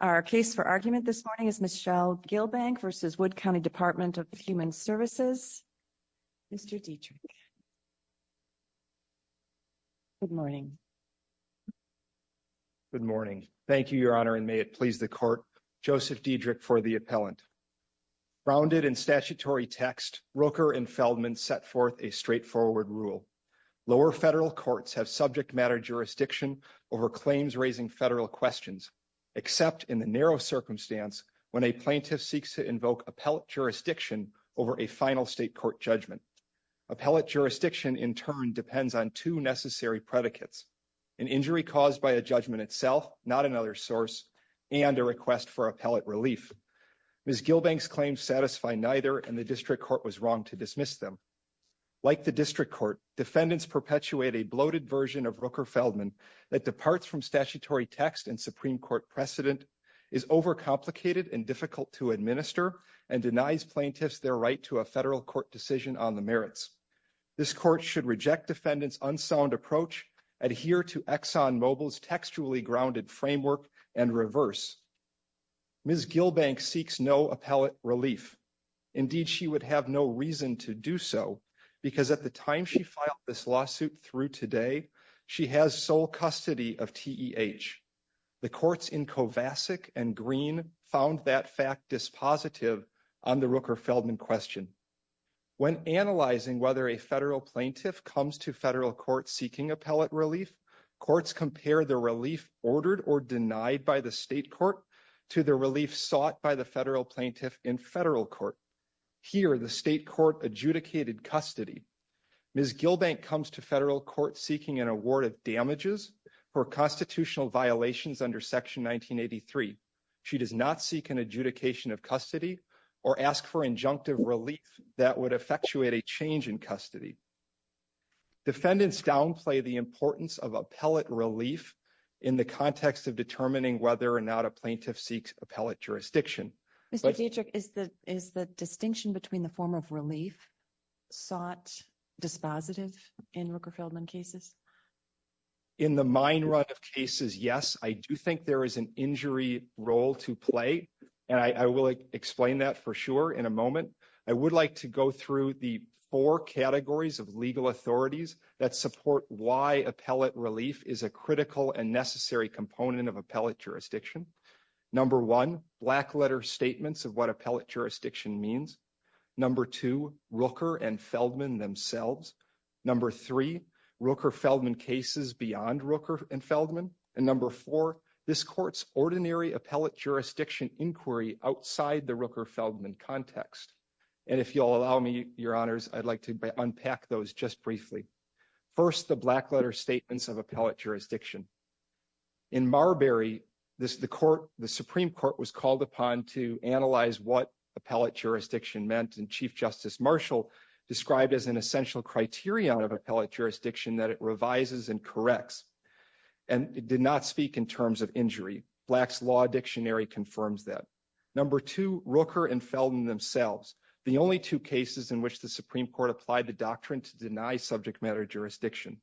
Our case for argument this morning is Michelle Gilbank v. Wood County Department of Human Services. Mr. Dietrich. Good morning. Good morning. Thank you, Your Honor, and may it please the Court. Joseph Dietrich for the appellant. Grounded in statutory text, Roker and Feldman set forth a straightforward rule. Lower federal courts have subject matter jurisdiction over claims raising federal questions. Except in the narrow circumstance when a plaintiff seeks to invoke appellate jurisdiction over a final state court judgment. Appellate jurisdiction, in turn, depends on two necessary predicates. An injury caused by a judgment itself, not another source, and a request for appellate relief. Ms. Gilbank's claims satisfy neither, and the district court was wrong to dismiss them. Like the district court, defendants perpetuate a bloated version of Roker-Feldman that departs from statutory text and Supreme Court precedent, is overcomplicated and difficult to administer, and denies plaintiffs their right to a federal court decision on the merits. This court should reject defendants' unsound approach, adhere to ExxonMobil's textually grounded framework, and reverse. Ms. Gilbank seeks no appellate relief. Indeed, she would have no to do so, because at the time she filed this lawsuit through today, she has sole custody of TEH. The courts in Kovacic and Green found that fact dispositive on the Roker-Feldman question. When analyzing whether a federal plaintiff comes to federal court seeking appellate relief, courts compare the relief ordered or denied by the state court to the relief sought by the adjudicated custody. Ms. Gilbank comes to federal court seeking an award of damages for constitutional violations under Section 1983. She does not seek an adjudication of custody or ask for injunctive relief that would effectuate a change in custody. Defendants downplay the importance of appellate relief in the context of determining whether or not a plaintiff seeks appellate jurisdiction. Mr. Dietrich, is the distinction between the form of relief sought dispositive in Roker-Feldman cases? In the mine run of cases, yes. I do think there is an injury role to play, and I will explain that for sure in a moment. I would like to go through the four categories of legal authorities that support why appellate relief is a critical and necessary component of appellate jurisdiction. Number one, black letter statements of what appellate jurisdiction means. Number two, Roker and Feldman themselves. Number three, Roker-Feldman cases beyond Roker and Feldman. And number four, this court's ordinary appellate jurisdiction inquiry outside the Roker-Feldman context. And if you'll allow me, your honors, I'd like to unpack those just briefly. First, the black letter statements of appellate jurisdiction. In Marbury, the Supreme Court was called upon to analyze what appellate jurisdiction meant, and Chief Justice Marshall described as an essential criterion of appellate jurisdiction that it revises and corrects. And it did not speak in terms of injury. Black's law dictionary confirms that. Number two, Roker and Feldman themselves, the only two cases in which the Supreme Court applied the doctrine to deny subject matter jurisdiction.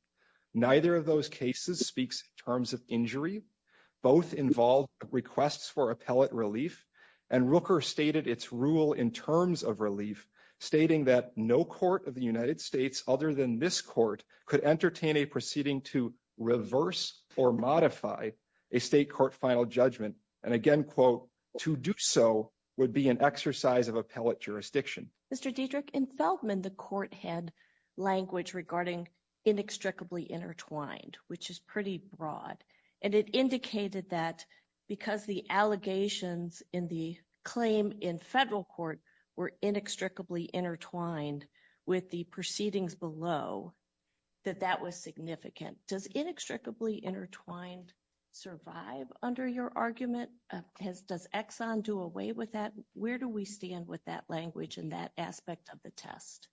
Neither of those cases speaks terms of injury. Both involved requests for appellate relief, and Roker stated its rule in terms of relief, stating that no court of the United States other than this court could entertain a proceeding to reverse or modify a state court final judgment. And again, quote, to do so would be an exercise of appellate jurisdiction. Mr. Diedrich, in Feldman, the court had language regarding inextricably intertwined, which is pretty broad. And it indicated that because the allegations in the claim in federal court were inextricably intertwined with the proceedings below, that that was significant. Does inextricably intertwined survive under your argument? Does Exxon do away with that? Where do we stand with that language in that aspect of the test?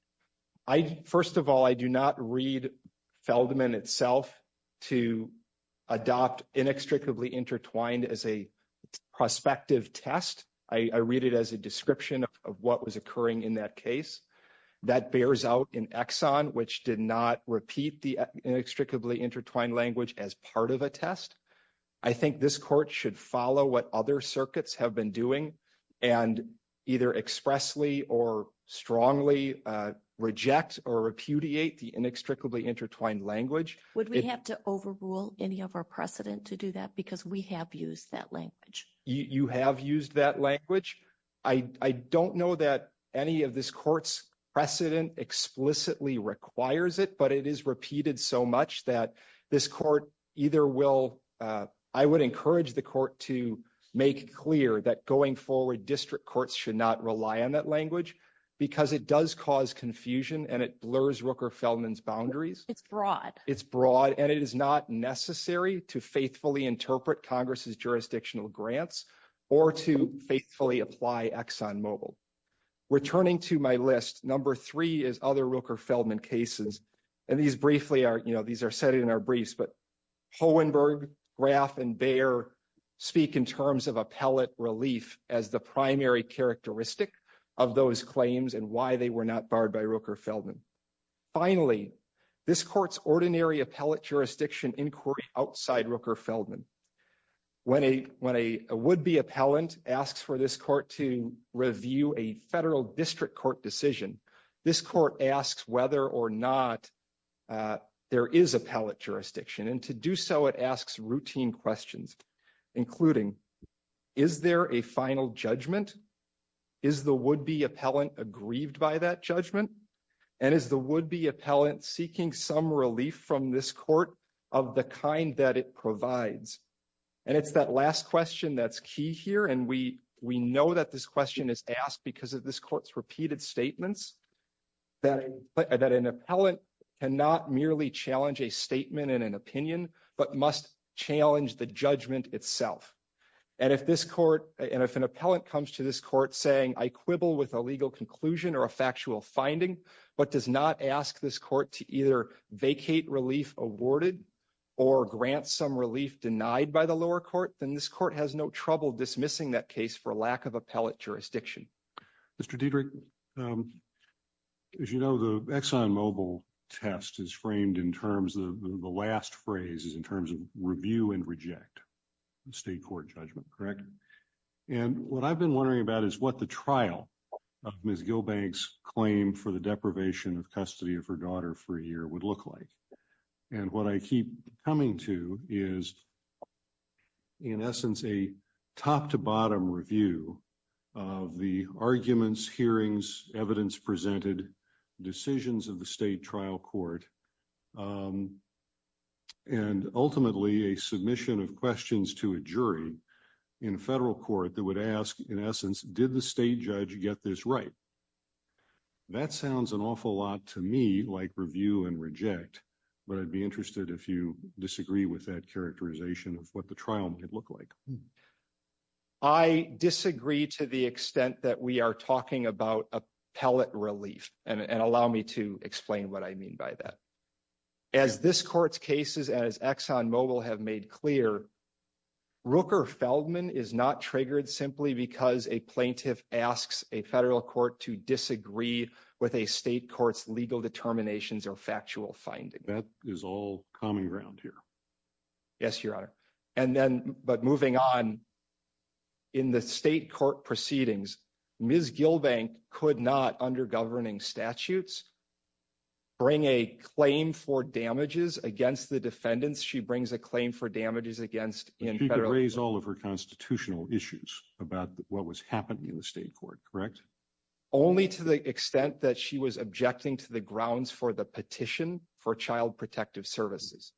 First of all, I do not read Feldman itself to adopt inextricably intertwined as a prospective test. I read it as a description of what was occurring in that case. That bears out in Exxon, which did not repeat the inextricably intertwined language as part of a test. I think this court should follow what other circuits have been doing and either expressly strongly reject or repudiate the inextricably intertwined language. Would we have to overrule any of our precedent to do that? Because we have used that language. You have used that language. I don't know that any of this court's precedent explicitly requires it, but it is repeated so much that this court either will. I would encourage the court to make clear that going forward, district courts should not rely on that language because it does cause confusion and it blurs Rooker-Feldman's boundaries. It's broad. It's broad, and it is not necessary to faithfully interpret Congress's jurisdictional grants or to faithfully apply Exxon Mobil. Returning to my list, number three is other Rooker-Feldman cases. These are set in our briefs, but Hohenberg, Graf, and Bayer speak in terms of appellate relief as the primary characteristic of those claims and why they were not barred by Rooker-Feldman. Finally, this court's ordinary appellate jurisdiction inquiry outside Rooker-Feldman. When a would-be appellant asks for this court to review a federal district court decision, this court asks whether or not there is appellate jurisdiction. And to do so, it asks routine questions, including, is there a final judgment? Is the would-be appellant aggrieved by that judgment? And is the would-be appellant seeking some relief from this court of the kind that it provides? And it's that last question that's key here. And we know that this question is asked because of this court's repeated statements that an appellant cannot merely challenge a statement and an opinion, but must challenge the judgment itself. And if an appellant comes to this court saying, I quibble with a legal conclusion or a factual finding, but does not ask this court to either vacate relief awarded or grant some relief denied by the lower court, then this court has no trouble dismissing that case for lack of appellate jurisdiction. Mr. Diedrich, as you know, the ExxonMobil test is framed in terms of the last phrase is in terms of review and reject the state court judgment, correct? And what I've been wondering about is what the trial of Ms. Gillbank's claim for the deprivation of custody of her daughter for in essence, a top-to-bottom review of the arguments, hearings, evidence presented, decisions of the state trial court, and ultimately a submission of questions to a jury in federal court that would ask, in essence, did the state judge get this right? That sounds an awful lot to me like review and reject, but I'd be interested if you disagree with that characterization of what the trial might look like. I disagree to the extent that we are talking about appellate relief and allow me to explain what I mean by that. As this court's cases, as ExxonMobil have made clear, Rooker-Feldman is not triggered simply because a plaintiff asks a federal court to disagree with a state court's legal determinations or factual finding. That is all common ground here. Yes, Your Honor. And then, but moving on, in the state court proceedings, Ms. Gillbank could not, under governing statutes, bring a claim for damages against the defendants. She brings a claim for damages against- But she could raise all of her constitutional issues about what was happening in the state court, correct? Only to the extent that she was objecting to the grounds for the petition for child protective services.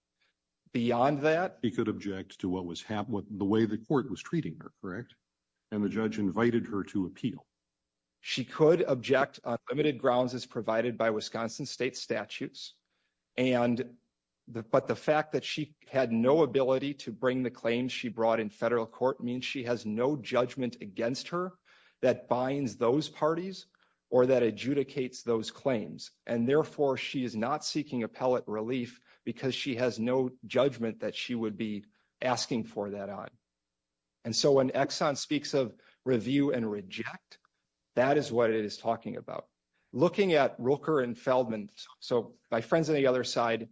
Beyond that- She could object to what was happening, the way the court was treating her, correct? And the judge invited her to appeal. She could object on limited grounds as provided by Wisconsin state statutes. But the fact that she had no ability to bring the claims she brought in federal court means she has no judgment against her that binds those parties or that adjudicates those claims. And therefore, she is not seeking appellate relief because she has no judgment that she would be asking for that on. And so when Exxon speaks of review and reject, that is what it is talking about. Looking at Rooker and Feldman, so my friends on the other side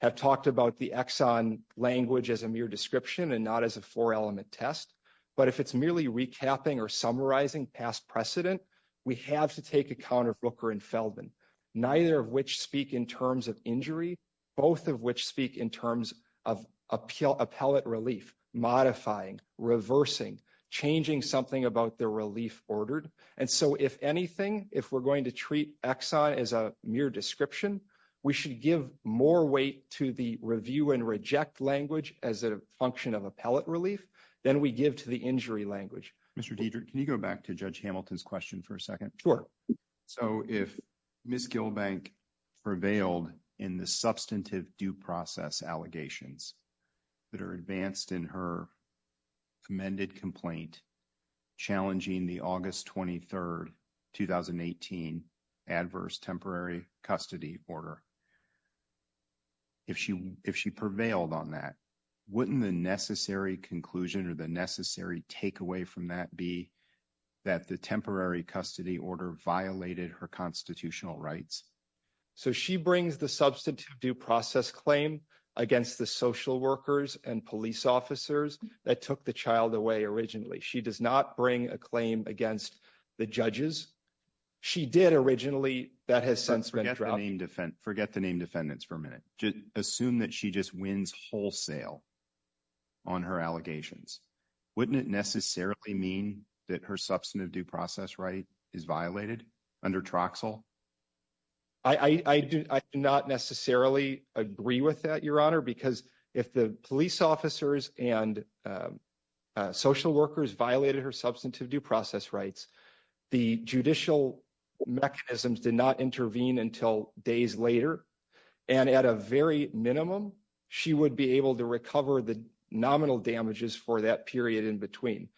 have talked about the Exxon language as a mere description and not as a four-element test. But if it's merely recapping or summarizing past precedent, we have to take account of Rooker and Feldman, neither of which speak in terms of injury, both of which speak in terms of appellate relief, modifying, reversing, changing something about the relief ordered. And so if anything, if we're going to treat Exxon as a mere description, we should give more weight to the review and reject language as a function of appellate relief than we give to the injury language. Mr. Deidre, can you go back to Judge Hamilton's question for a second? Sure. So if Ms. Gilbank prevailed in the substantive due process allegations that are advanced in her amended complaint challenging the August 23rd, 2018 adverse temporary custody order, if she prevailed on that, wouldn't the necessary conclusion or the necessary takeaway from that be that the temporary custody order violated her constitutional rights? So she brings the substantive due process claim against the social workers and police officers that took the child away originally. She does not bring a claim against the judges. She did originally. That has since been dropped. Forget the name defendants for a minute. Assume that she just wins wholesale on her allegations. Wouldn't it necessarily mean that her substantive due process right is violated under Troxel? I do not necessarily agree with that, Your Honor, because if the police officers and social workers violated her substantive due process rights, the judicial mechanisms did not intervene until days later. And at a very minimum, she would be able to recover the nominal damages for that period in between.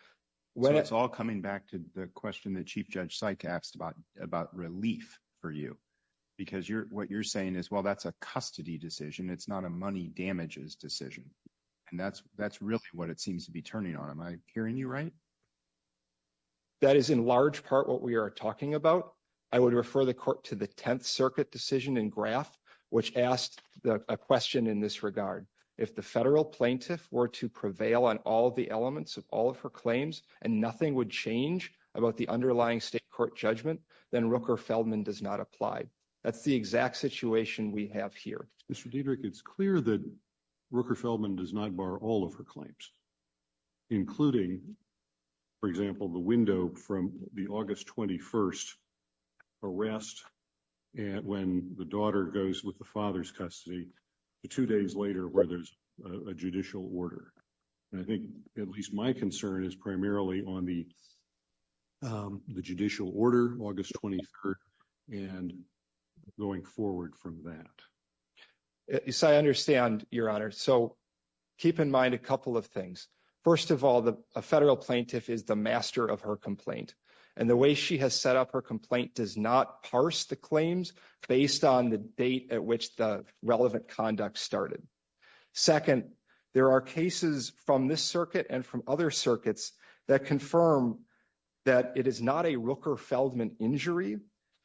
So it's all coming back to the question that Chief Judge Sykes asked about relief for you. Because what you're saying is, well, that's a custody decision. It's not a money damages decision. And that's really what it seems to be turning on. Am I hearing you right? That is in large part what we are talking about. I would refer the court to the 10th Circuit decision and graph, which asked a question in this regard. If the federal plaintiff were to prevail on all the elements of all of her claims and nothing would change about the underlying state court judgment, then Rooker-Feldman does not apply. That's the exact situation we have here. Mr. Diederich, it's clear that Rooker-Feldman does not bar all of her claims, including, for example, the window from the August 21st arrest when the daughter goes with the father's custody to two days later, where there's a judicial order. And I think at least my concern is primarily on the judicial order, August 23rd, and going forward from that. Yes, I understand, Your Honor. So, keep in mind a couple of things. First of all, a federal plaintiff is the master of her complaint. And the way she has set up her complaint does not parse the claims based on the date at which the relevant conduct started. Second, there are cases from this circuit and from other circuits that confirm that it is not a Rooker-Feldman injury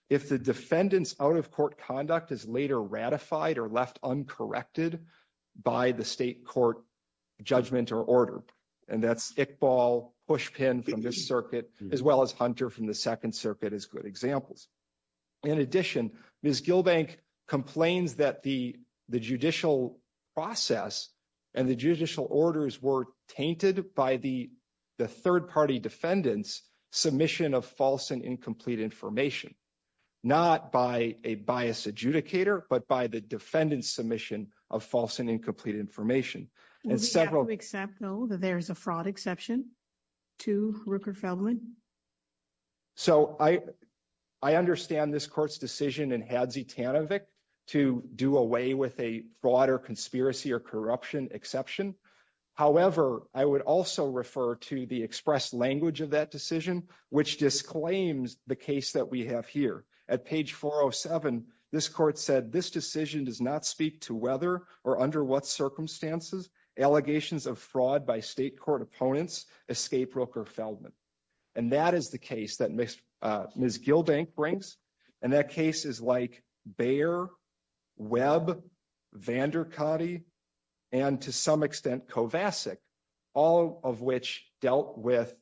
if the defendant's out-of-court conduct is later ratified or left uncorrected by the state court judgment or order. And that's Iqbal, Pushpin from this circuit, as well as Hunter from the Second Circuit as good examples. In addition, Ms. Gilbank complains that the judicial process and the judicial orders were the third-party defendant's submission of false and incomplete information, not by a biased adjudicator, but by the defendant's submission of false and incomplete information. And several... Would you have to accept, though, that there's a fraud exception to Rooker-Feldman? So, I understand this court's decision in Hadzi Tanovic to do away with a fraud or conspiracy or corruption exception. However, I would also refer to the expressed language of that decision, which disclaims the case that we have here. At page 407, this court said, this decision does not speak to whether or under what circumstances allegations of fraud by state court opponents escape Rooker-Feldman. And that is the case that Ms. Gilbank brings. And that case is like Bayer, Webb, Vandercutty, and to some extent, Kovacic, all of which dealt with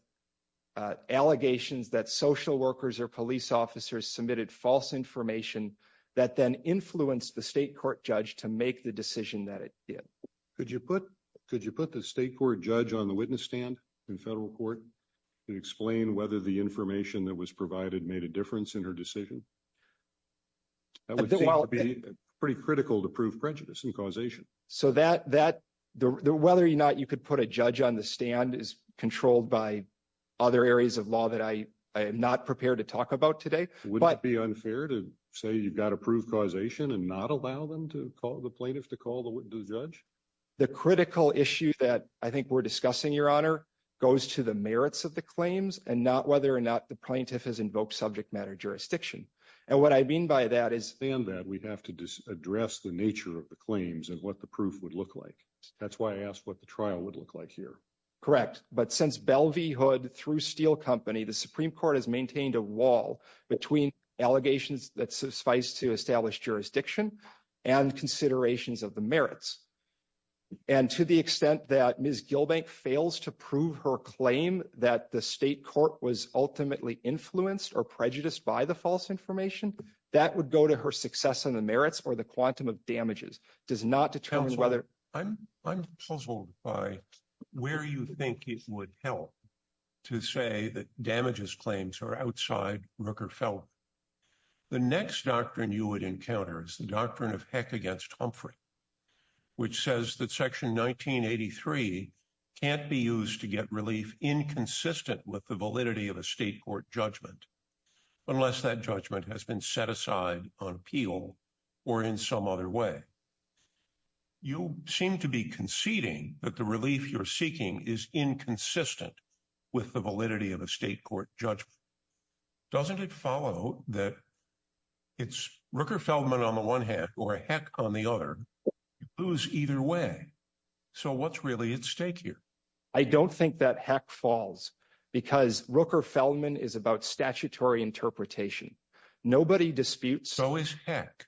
allegations that social workers or police officers submitted false information that then influenced the state court judge to make the decision that it did. Could you put the state court judge on the witness stand in federal court to explain whether the information that was provided made a difference in her decision? That would seem to be pretty critical to prove prejudice and causation. So, whether or not you could put a judge on the stand is controlled by other areas of law that I am not prepared to talk about today. Wouldn't it be unfair to say you've got to prove causation and not allow the plaintiff to call the judge? The critical issue that I think we're discussing, Your Honor, goes to the merits of the claims and whether or not the plaintiff has invoked subject matter jurisdiction. And what I mean by that is- Beyond that, we have to address the nature of the claims and what the proof would look like. That's why I asked what the trial would look like here. Correct. But since Bell v. Hood through Steele Company, the Supreme Court has maintained a wall between allegations that suffice to establish jurisdiction and considerations of the merits. And to the extent that Ms. Gilbank fails to prove her claim that the state court was ultimately influenced or prejudiced by the false information, that would go to her success on the merits or the quantum of damages. It does not determine whether- Counsel, I'm puzzled by where you think it would help to say that damages claims are outside Rooker-Feldman. The next doctrine you would encounter is the doctrine of Heck against Humphrey. Which says that Section 1983 can't be used to get relief inconsistent with the validity of a state court judgment unless that judgment has been set aside on appeal or in some other way. You seem to be conceding that the relief you're seeking is inconsistent with the validity of a state court judgment. Doesn't it follow that it's Rooker-Feldman on the one hand or Heck on the other? You lose either way. So what's really at stake here? I don't think that Heck falls because Rooker-Feldman is about statutory interpretation. Nobody disputes- So is Heck.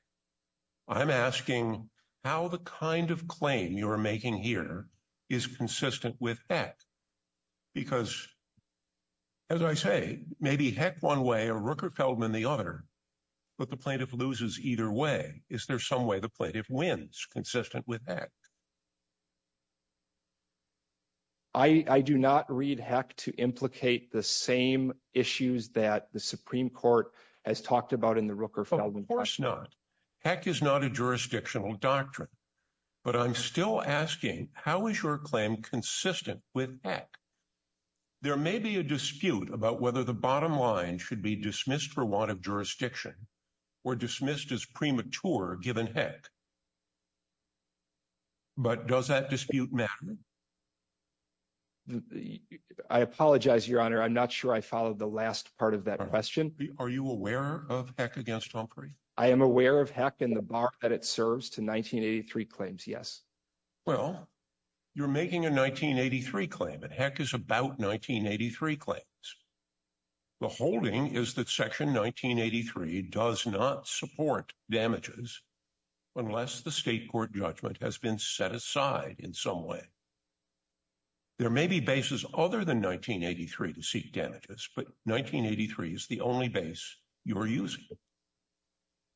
I'm asking how the kind of claim you're making here is consistent with Heck. Because as I say, maybe Heck one way or Rooker-Feldman the other, but the plaintiff loses either way. Is there some way the plaintiff wins consistent with Heck? I do not read Heck to implicate the same issues that the Supreme Court has talked about in the Rooker-Feldman. Of course not. Heck is not a jurisdictional doctrine. But I'm still asking how is your claim consistent with Heck? There may be a dispute about whether the bottom line should be dismissed for want of jurisdiction or dismissed as premature given Heck. But does that dispute matter? I apologize, Your Honor. I'm not sure I followed the last part of that question. Are you aware of Heck against Humphrey? I am aware of Heck and the bar that it serves to 1983 claims, yes. Well, you're making a 1983 claim and Heck is about 1983 claims. The holding is that section 1983 does not support damages unless the state court judgment has been set aside in some way. There may be bases other than 1983 to seek damages, but 1983 is the only base you're using.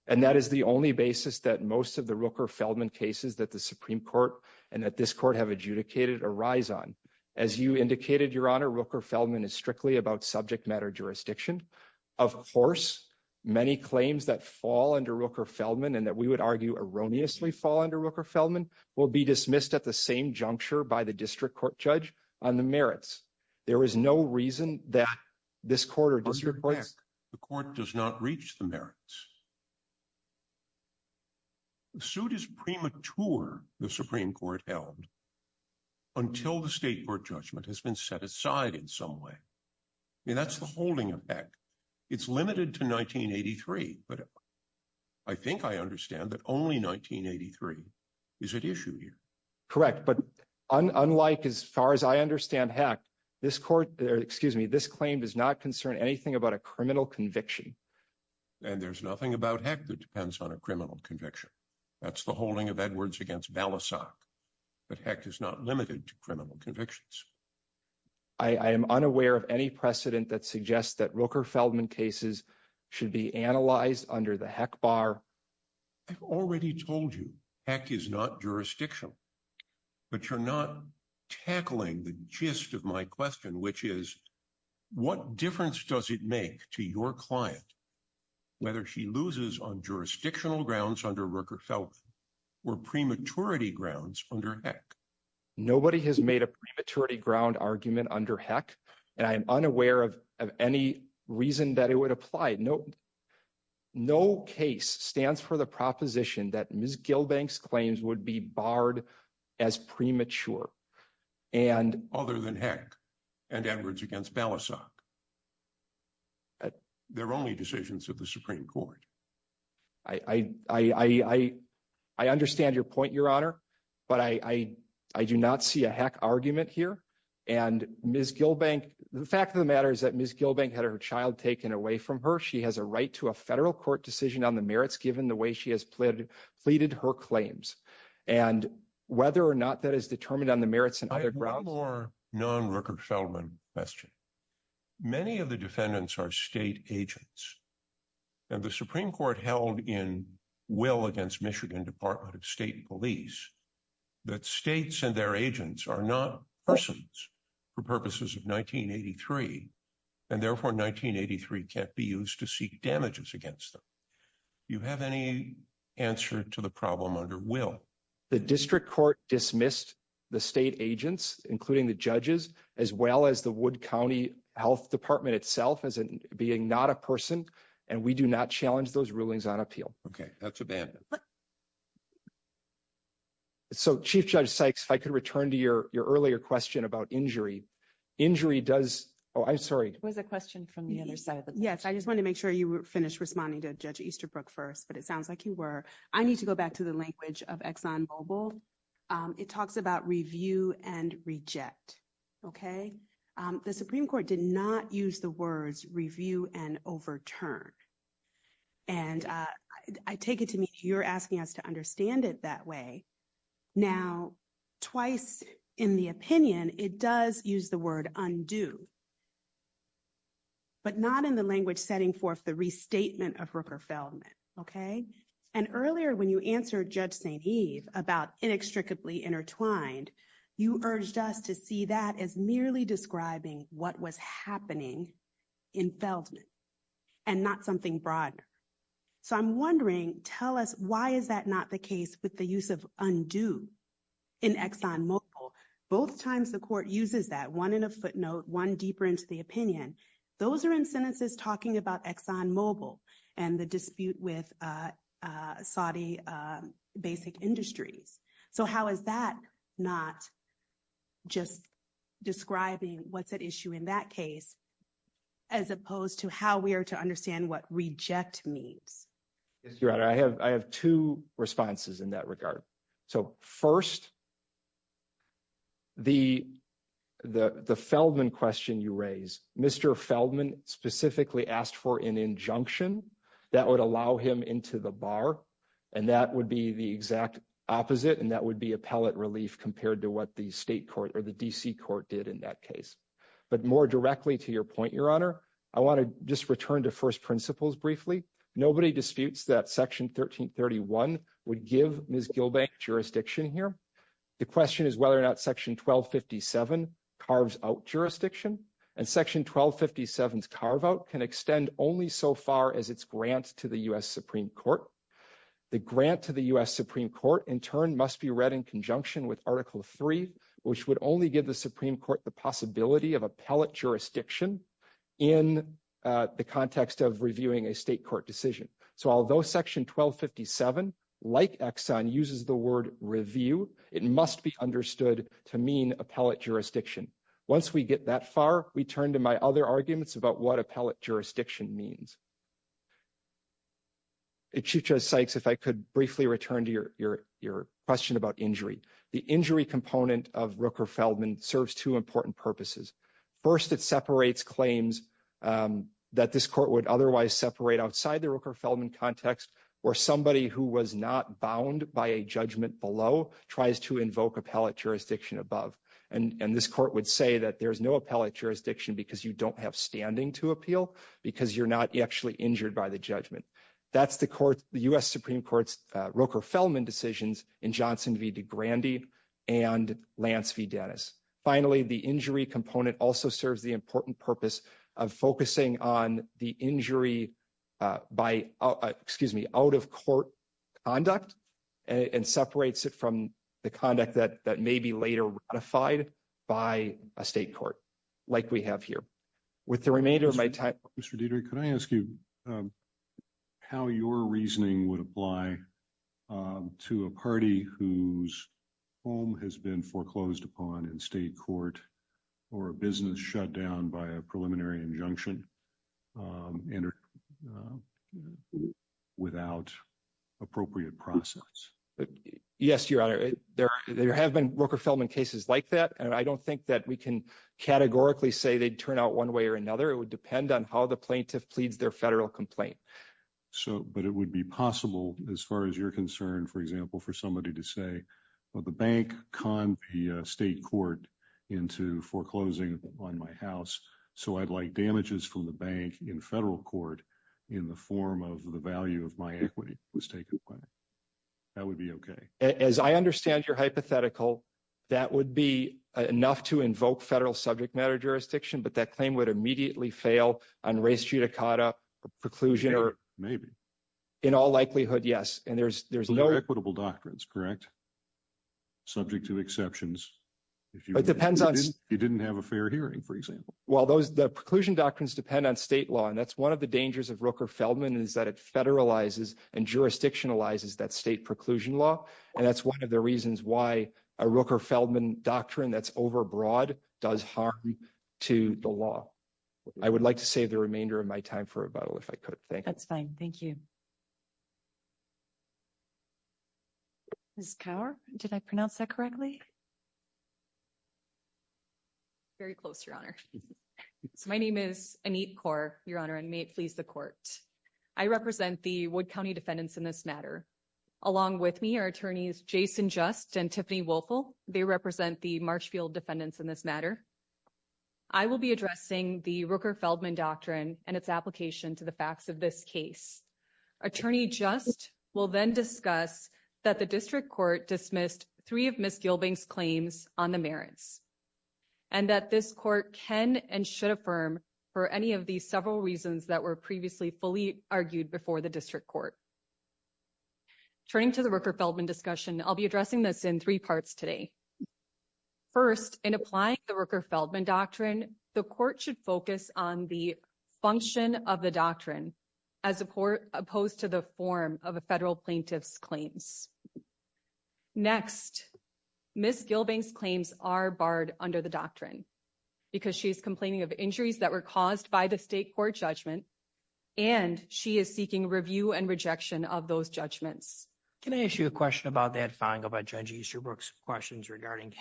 And that is the only basis that most of the Rooker-Feldman cases that the Supreme Court and that this court have adjudicated arise on. As you indicated, Your Honor, Rooker-Feldman is strictly about subject matter jurisdiction. Of course, many claims that fall under Rooker-Feldman and that we would argue erroneously fall under Rooker-Feldman will be dismissed at the same juncture by the district court judge on the merits. There is no reason that this court or district court... The court does not reach the merits. The suit is premature, the Supreme Court held, until the state court judgment has been set aside in some way. I mean, that's the holding of Heck. It's limited to 1983, but I think I understand that only 1983 is at issue here. Correct, but unlike as far as I understand Heck, this court, or excuse me, this claim does not concern anything about a criminal conviction. And there's nothing about Heck that depends on a criminal conviction. That's the holding of Edwards against Balasag, but Heck is not limited to criminal convictions. I am unaware of any precedent that suggests that Rooker-Feldman cases should be analyzed under the Heck bar. I've already told you Heck is not jurisdictional, but you're not tackling the gist of my question, which is what difference does it make to your client whether she loses on jurisdictional grounds under Rooker-Feldman or prematurity grounds under Heck? Nobody has made a prematurity ground argument under Heck, and I am unaware of any reason that it would apply. No case stands for the proposition that Ms. Gilbank's claims would be only decisions of the Supreme Court. I understand your point, Your Honor, but I do not see a Heck argument here. And Ms. Gilbank, the fact of the matter is that Ms. Gilbank had her child taken away from her. She has a right to a federal court decision on the merits given the way she has pleaded her claims. And whether or not that is determined on the merits of the Supreme Court is not determined on the merits of the Supreme Court's decision. The Supreme Court held in will against Michigan Department of State Police that states and their agents are not persons for purposes of 1983, and therefore 1983 can't be used to seek damages against them. Do you have any answer to the problem under will? The district court dismissed the state agents, including the judges, as well as the Wood County Health Department itself as being not a person, and we do not challenge those rulings on appeal. Okay, that's a bad. So, Chief Judge Sykes, if I could return to your earlier question about injury. Injury does, oh, I'm sorry. It was a question from the other side. Yes, I just wanted to make sure you finished responding to Judge Easterbrook first, but it sounds like you were. I need to go back to the language of Exxon Mobil. It talks about review and reject, okay? The Supreme Court did not use the words review and overturn, and I take it to mean you're asking us to understand it that way. Now, twice in the opinion, it does use the word undo, but not in the language setting forth the restatement of Rooker Feldman, okay? And earlier when you answered Judge St. Eve about inextricably intertwined, you urged us to see that as merely describing what was happening in Feldman and not something broader. So, I'm wondering, tell us why is that not the case with the use of undo in Exxon Mobil? Both times the court uses that, one in a footnote, one deeper into the opinion. Those are in sentences talking about Exxon Mobil and the dispute with Saudi basic industries. So, how is that not just describing what's at issue in that case as opposed to how we are to understand what reject means? Yes, Your Honor. I have two responses in that regard. So, first, the Feldman question you raised, Mr. Feldman specifically asked for an injunction that would him into the bar, and that would be the exact opposite, and that would be appellate relief compared to what the state court or the D.C. court did in that case. But more directly to your point, Your Honor, I want to just return to first principles briefly. Nobody disputes that Section 1331 would give Ms. Gilbank jurisdiction here. The question is whether or not Section 1257 carves out jurisdiction, and Section 1257's carve-out can extend only so far as its grant to the U.S. Supreme Court. The grant to the U.S. Supreme Court, in turn, must be read in conjunction with Article III, which would only give the Supreme Court the possibility of appellate jurisdiction in the context of reviewing a state court decision. So, although Section 1257, like Exxon, uses the word review, it must be understood to mean appellate jurisdiction. Once we get that far, we turn to my other arguments about what appellate jurisdiction means. It should just, Sykes, if I could briefly return to your question about injury. The injury component of Rooker-Feldman serves two important purposes. First, it separates claims that this court would bound by a judgment below, tries to invoke appellate jurisdiction above. And this court would say that there's no appellate jurisdiction because you don't have standing to appeal, because you're not actually injured by the judgment. That's the U.S. Supreme Court's Rooker-Feldman decisions in Johnson v. DeGrande and Lance v. Dennis. Finally, the injury component also serves the important purpose of focusing on the injury by, excuse me, out-of-court conduct and separates it from the conduct that may be later ratified by a state court, like we have here. With the remainder of my time... Mr. Dietrich, could I ask you how your reasoning would apply to a party whose home has been foreclosed upon in state court or a business shut down by a preliminary injunction without appropriate process? Yes, Your Honor. There have been Rooker-Feldman cases like that, and I don't think that we can categorically say they'd turn out one way or another. It would depend on how the plaintiff pleads their federal complaint. But it would be possible, as far as foreclosing on my house, so I'd like damages from the bank in federal court in the form of the value of my equity was taken away. That would be okay. As I understand your hypothetical, that would be enough to invoke federal subject matter jurisdiction, but that claim would immediately fail on race judicata preclusion or... Maybe. In all likelihood, yes. And there's no... Subject to exceptions. It depends on... If you didn't have a fair hearing, for example. Well, the preclusion doctrines depend on state law, and that's one of the dangers of Rooker-Feldman is that it federalizes and jurisdictionalizes that state preclusion law. And that's one of the reasons why a Rooker-Feldman doctrine that's overbroad does harm to the law. I would like to save the remainder of my time for rebuttal, if I could. Thank you. That's fine. Thank you. Ms. Kaur, did I pronounce that correctly? Very close, Your Honor. So my name is Anit Kaur, Your Honor, and may it please the court. I represent the Wood County defendants in this matter. Along with me are attorneys Jason Just and Tiffany Wolfel. They represent the Marshfield defendants in this matter. I will be addressing the Rooker-Feldman doctrine and its application to the facts of this case. Attorney Just will then discuss that the district court dismissed three of Ms. Gilbeng's claims on the merits, and that this court can and should affirm for any of these several reasons that were previously fully argued before the district court. Turning to the Rooker-Feldman discussion, I'll be addressing this in three parts today. First, in applying the Rooker-Feldman doctrine, the court should focus on the function of the doctrine as opposed to the form of a federal plaintiff's claims. Next, Ms. Gilbeng's claims are barred under the doctrine because she is complaining of injuries that were caused by the state court judgment, and she is seeking review and rejection of those judgments. Can I ask you a question about that, Fang, about Judge Easterbrook's questions regarding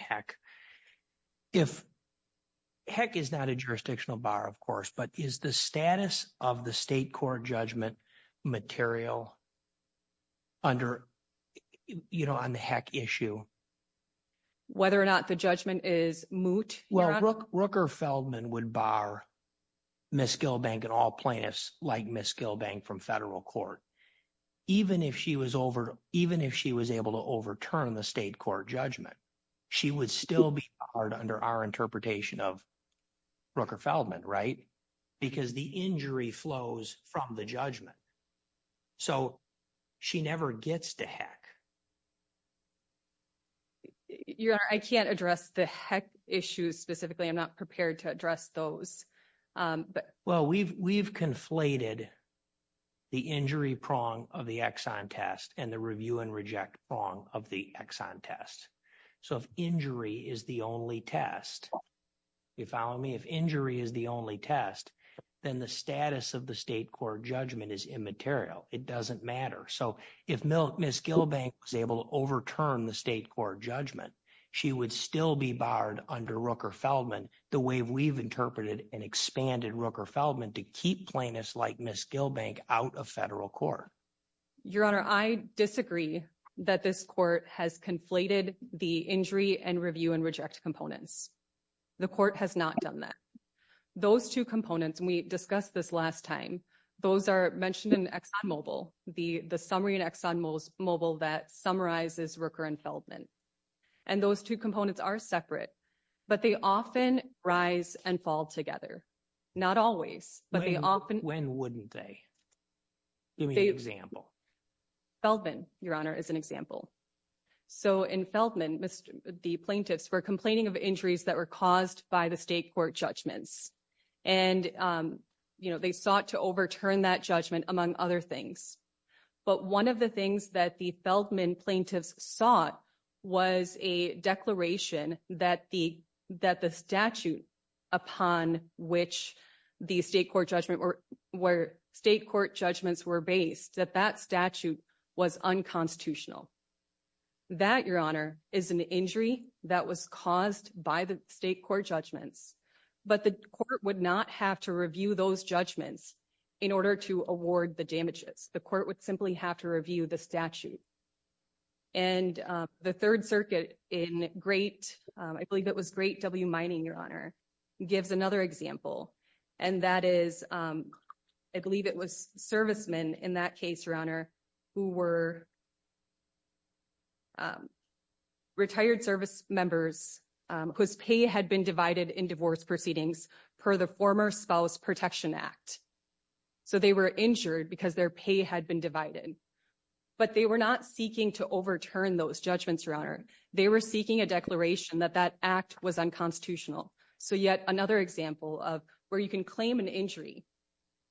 HECC? HECC is not a jurisdictional bar, of course, but is the status of the state court judgment material under, you know, on the HECC issue? Whether or not the judgment is moot? Well, Rooker-Feldman would bar Ms. Gilbeng and all plaintiffs like Ms. Gilbeng from federal court, even if she was able to overturn the state court judgment. She would still be barred under our interpretation of Rooker-Feldman, right? Because the injury flows from the judgment. So she never gets to HECC. Your Honor, I can't address the HECC issues specifically. I'm not prepared to address those. Well, we've conflated the injury prong of the Exxon test and the review and reject prong of the Exxon test. So if injury is the only test, you follow me? If injury is the only test, then the status of the state court judgment is immaterial. It doesn't matter. So if Ms. Gilbeng was able to overturn the state court judgment, she would still be barred under Rooker-Feldman, the way we've interpreted and expanded Rooker-Feldman to keep plaintiffs like Ms. Gilbeng out of federal court. Your Honor, I disagree that this court has conflated the injury and review and reject components. The court has not done that. Those two components, and we discussed this last time, those are mentioned in Exxon Mobil, the summary in Exxon Mobil that summarizes Rooker-Feldman. And those two components are separate, but they often rise and fall together. Not always, but they often- When wouldn't they? Give me an example. Feldman, Your Honor, is an example. So in Feldman, the plaintiffs were complaining of injuries that were caused by the state court judgments. And they sought to overturn that judgment, among other things. But one of the things that the Feldman plaintiffs sought was a declaration that the statute upon which the state court judgments were based, that that statute was unconstitutional. That, Your Honor, is an injury that was caused by the state court judgments. But the court would not have to review those judgments in order to award the damages. The court would simply have to review the statute. And the Third Circuit in Great, I believe it was Great W Mining, Your Honor, gives another example. And that is, I believe it was servicemen in that case, who were retired servicemembers whose pay had been divided in divorce proceedings per the former Spouse Protection Act. So they were injured because their pay had been divided. But they were not seeking to overturn those judgments, Your Honor. They were seeking a declaration that that act was unconstitutional. So yet another example of where you can claim an injury,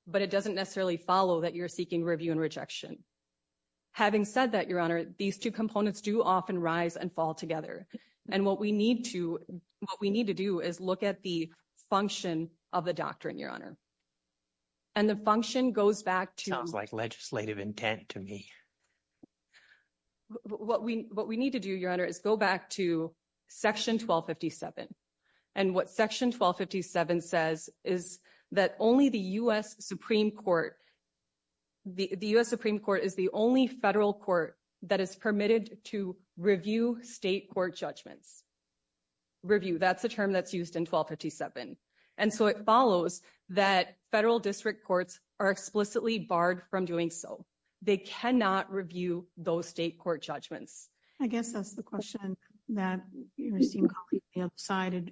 but it doesn't necessarily follow that you're seeking review and rejection. Having said that, Your Honor, these two components do often rise and fall together. And what we need to do is look at the function of the doctrine, Your Honor. And the function goes back to... Sounds like legislative intent to me. What we need to do, Your Honor, is go back to Section 1257. And what Section 1257 says is that only the U.S. Supreme Court... The U.S. Supreme Court is the only federal court that is permitted to review state court judgments. Review, that's the term that's used in 1257. And so it follows that federal district courts are explicitly barred from doing so. They cannot review those state court judgments. I guess that's the question that your esteemed colleague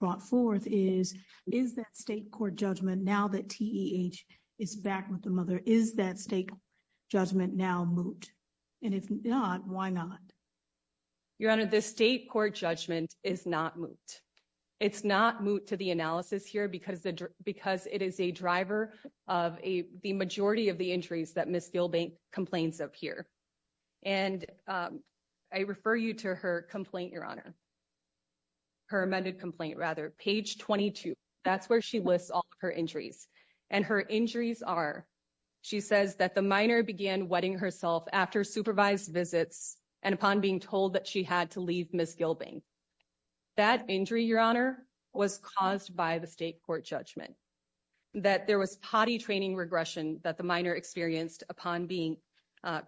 brought forth is, is that state court judgment now that TEH is back with the mother, is that state judgment now moot? And if not, why not? Your Honor, the state court judgment is not moot. It's not moot to the analysis here because it is a driver of the majority of the injuries that Ms. Gilbank complains of here. And I refer you to her complaint, Your Honor. Her amended complaint, rather. Page 22, that's where she lists all her injuries. And her injuries are, she says that the minor began wetting herself after supervised visits and upon being told that she had to leave Ms. Gilbank. That injury, Your Honor, was caused by the state court judgment. That there was potty training regression that the minor experienced upon being...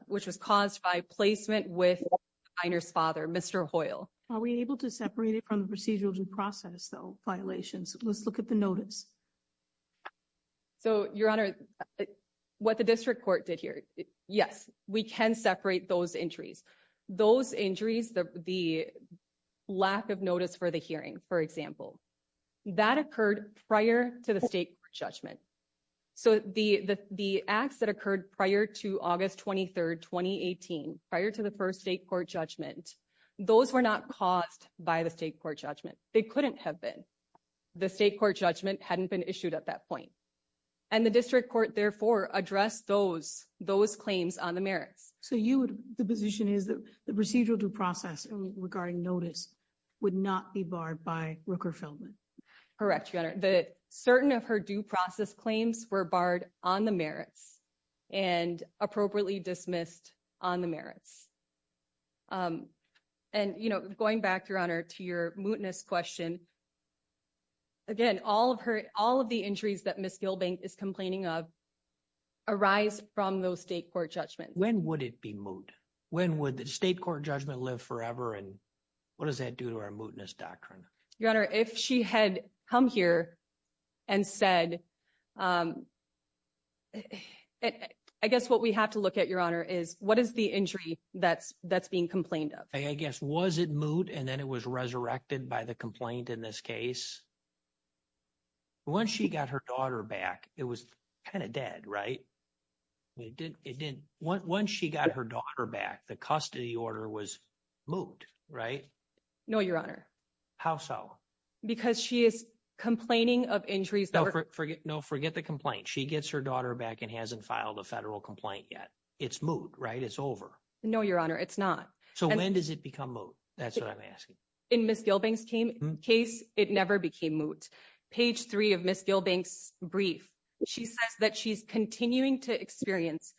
with the minor's father, Mr. Hoyle. Are we able to separate it from the procedural due process, though, violations? Let's look at the notice. So, Your Honor, what the district court did here, yes, we can separate those injuries. Those injuries, the lack of notice for the hearing, for example, that occurred prior to the state judgment. So, the acts that occurred prior to August 23rd, 2018, prior to the first state court judgment, those were not caused by the state court judgment. They couldn't have been. The state court judgment hadn't been issued at that point. And the district court, therefore, addressed those claims on the merits. So, the position is that the procedural due process regarding notice would not be barred by Rooker Feldman? Correct, Your Honor. Certain of her due process claims were barred on the merits and appropriately dismissed on the merits. And going back, Your Honor, to your mootness question, again, all of the injuries that Ms. Gilbank is complaining of arise from those state court judgments. When would it be moot? When would the state court judgment live forever? And what does that do to our mootness doctrine? Your Honor, if she had come here and said... I guess what we have to look at, Your Honor, is what is the injury that's being complained of? I guess, was it moot and then it was resurrected by the complaint in this case? Once she got her daughter back, it was kind of dead, right? Once she got her daughter back, the custody order was moot, right? No, Your Honor. How so? Because she is complaining of injuries... No, forget the complaint. She gets her daughter back and hasn't filed a federal complaint yet. It's moot, right? It's over. No, Your Honor, it's not. So, when does it become moot? That's what I'm asking. In Ms. Gilbank's case, it never became moot. Page three of Ms. Gilbank's brief, she says that she's continuing to experience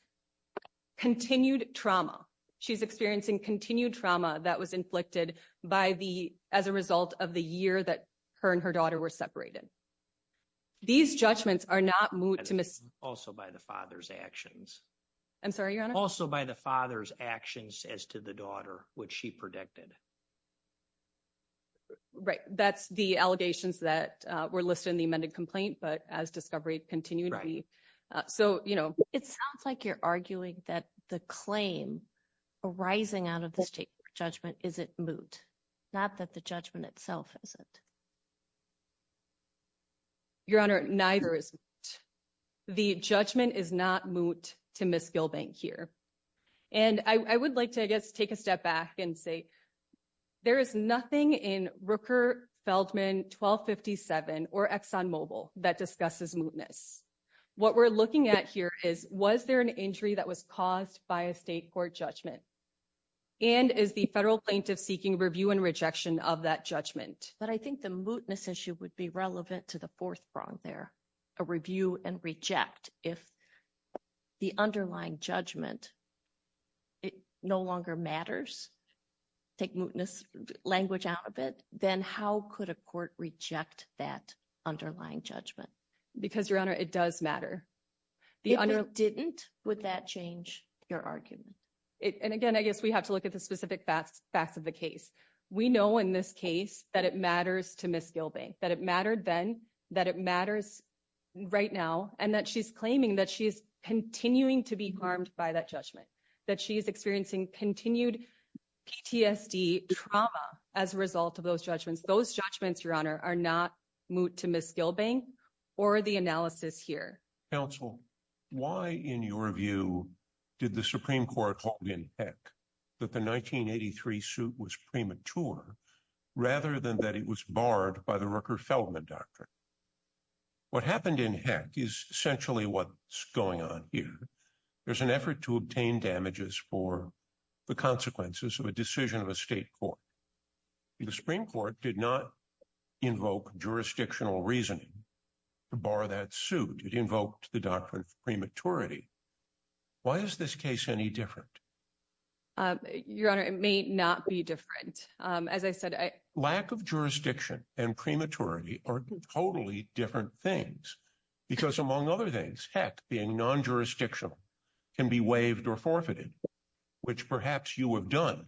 continued trauma. She's experiencing continued trauma that was inflicted as a result of the year that her and her daughter were separated. These judgments are not moot to Ms... Also by the father's actions. I'm sorry, Your Honor? Also by the father's actions as to the daughter, which she predicted. Right. That's the allegations that were listed in the amended complaint, but as discovery continued to be... So, you know... It sounds like you're arguing that the claim arising out of this judgment isn't moot, not that the judgment itself isn't. Your Honor, neither is moot. The judgment is not moot to Ms. Gilbank here. And I would like to, I guess, take a step back and say there is nothing in Rooker-Feldman 1257 or ExxonMobil that discusses mootness. What we're looking at here is, was there an injury that was caused by a state court judgment? And is the federal plaintiff seeking review and rejection of that judgment? But I think the mootness issue would be relevant to the fourth prong there, a review and reject. If the underlying judgment, it no longer matters, take mootness language out of it, then how could a court reject that underlying judgment? Because Your Honor, it does matter. If it didn't, would that change your argument? And again, I guess we have to look at the specific facts of the case. We know in this case that it matters to Ms. Gilbank, that it mattered then, that it matters right now, and that she's claiming that she's continuing to be harmed by that judgment, that she's experiencing continued PTSD trauma as a result of those judgments. Those judgments, Your Honor, are not moot to Ms. Gilbank or the analysis here. Counsel, why, in your view, did the Supreme Court hold in heck that the 1983 suit was premature, rather than that it was barred by the Rooker-Feldman doctrine? What happened in heck is essentially what's going on here. There's an effort to obtain damages for the consequences of a decision of a state court. The Supreme Court did not invoke jurisdictional reasoning to bar that suit. It invoked the doctrine of prematurity. Why is this case any different? Your Honor, it may not be different. As I said, I- different things. Because among other things, heck, being non-jurisdictional can be waived or forfeited, which perhaps you have done.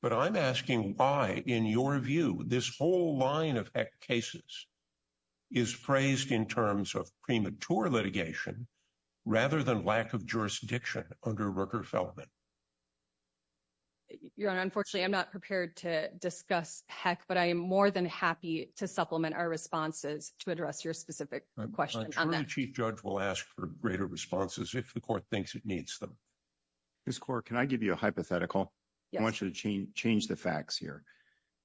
But I'm asking why, in your view, this whole line of heck cases is phrased in terms of premature litigation, rather than lack of jurisdiction under Rooker-Feldman? Your Honor, unfortunately, I'm not prepared to discuss heck, but I am more than happy to supplement our responses to address your specific question on that. I'm sure the Chief Judge will ask for greater responses if the Court thinks it needs them. Ms. Corr, can I give you a hypothetical? Yes. I want you to change the facts here.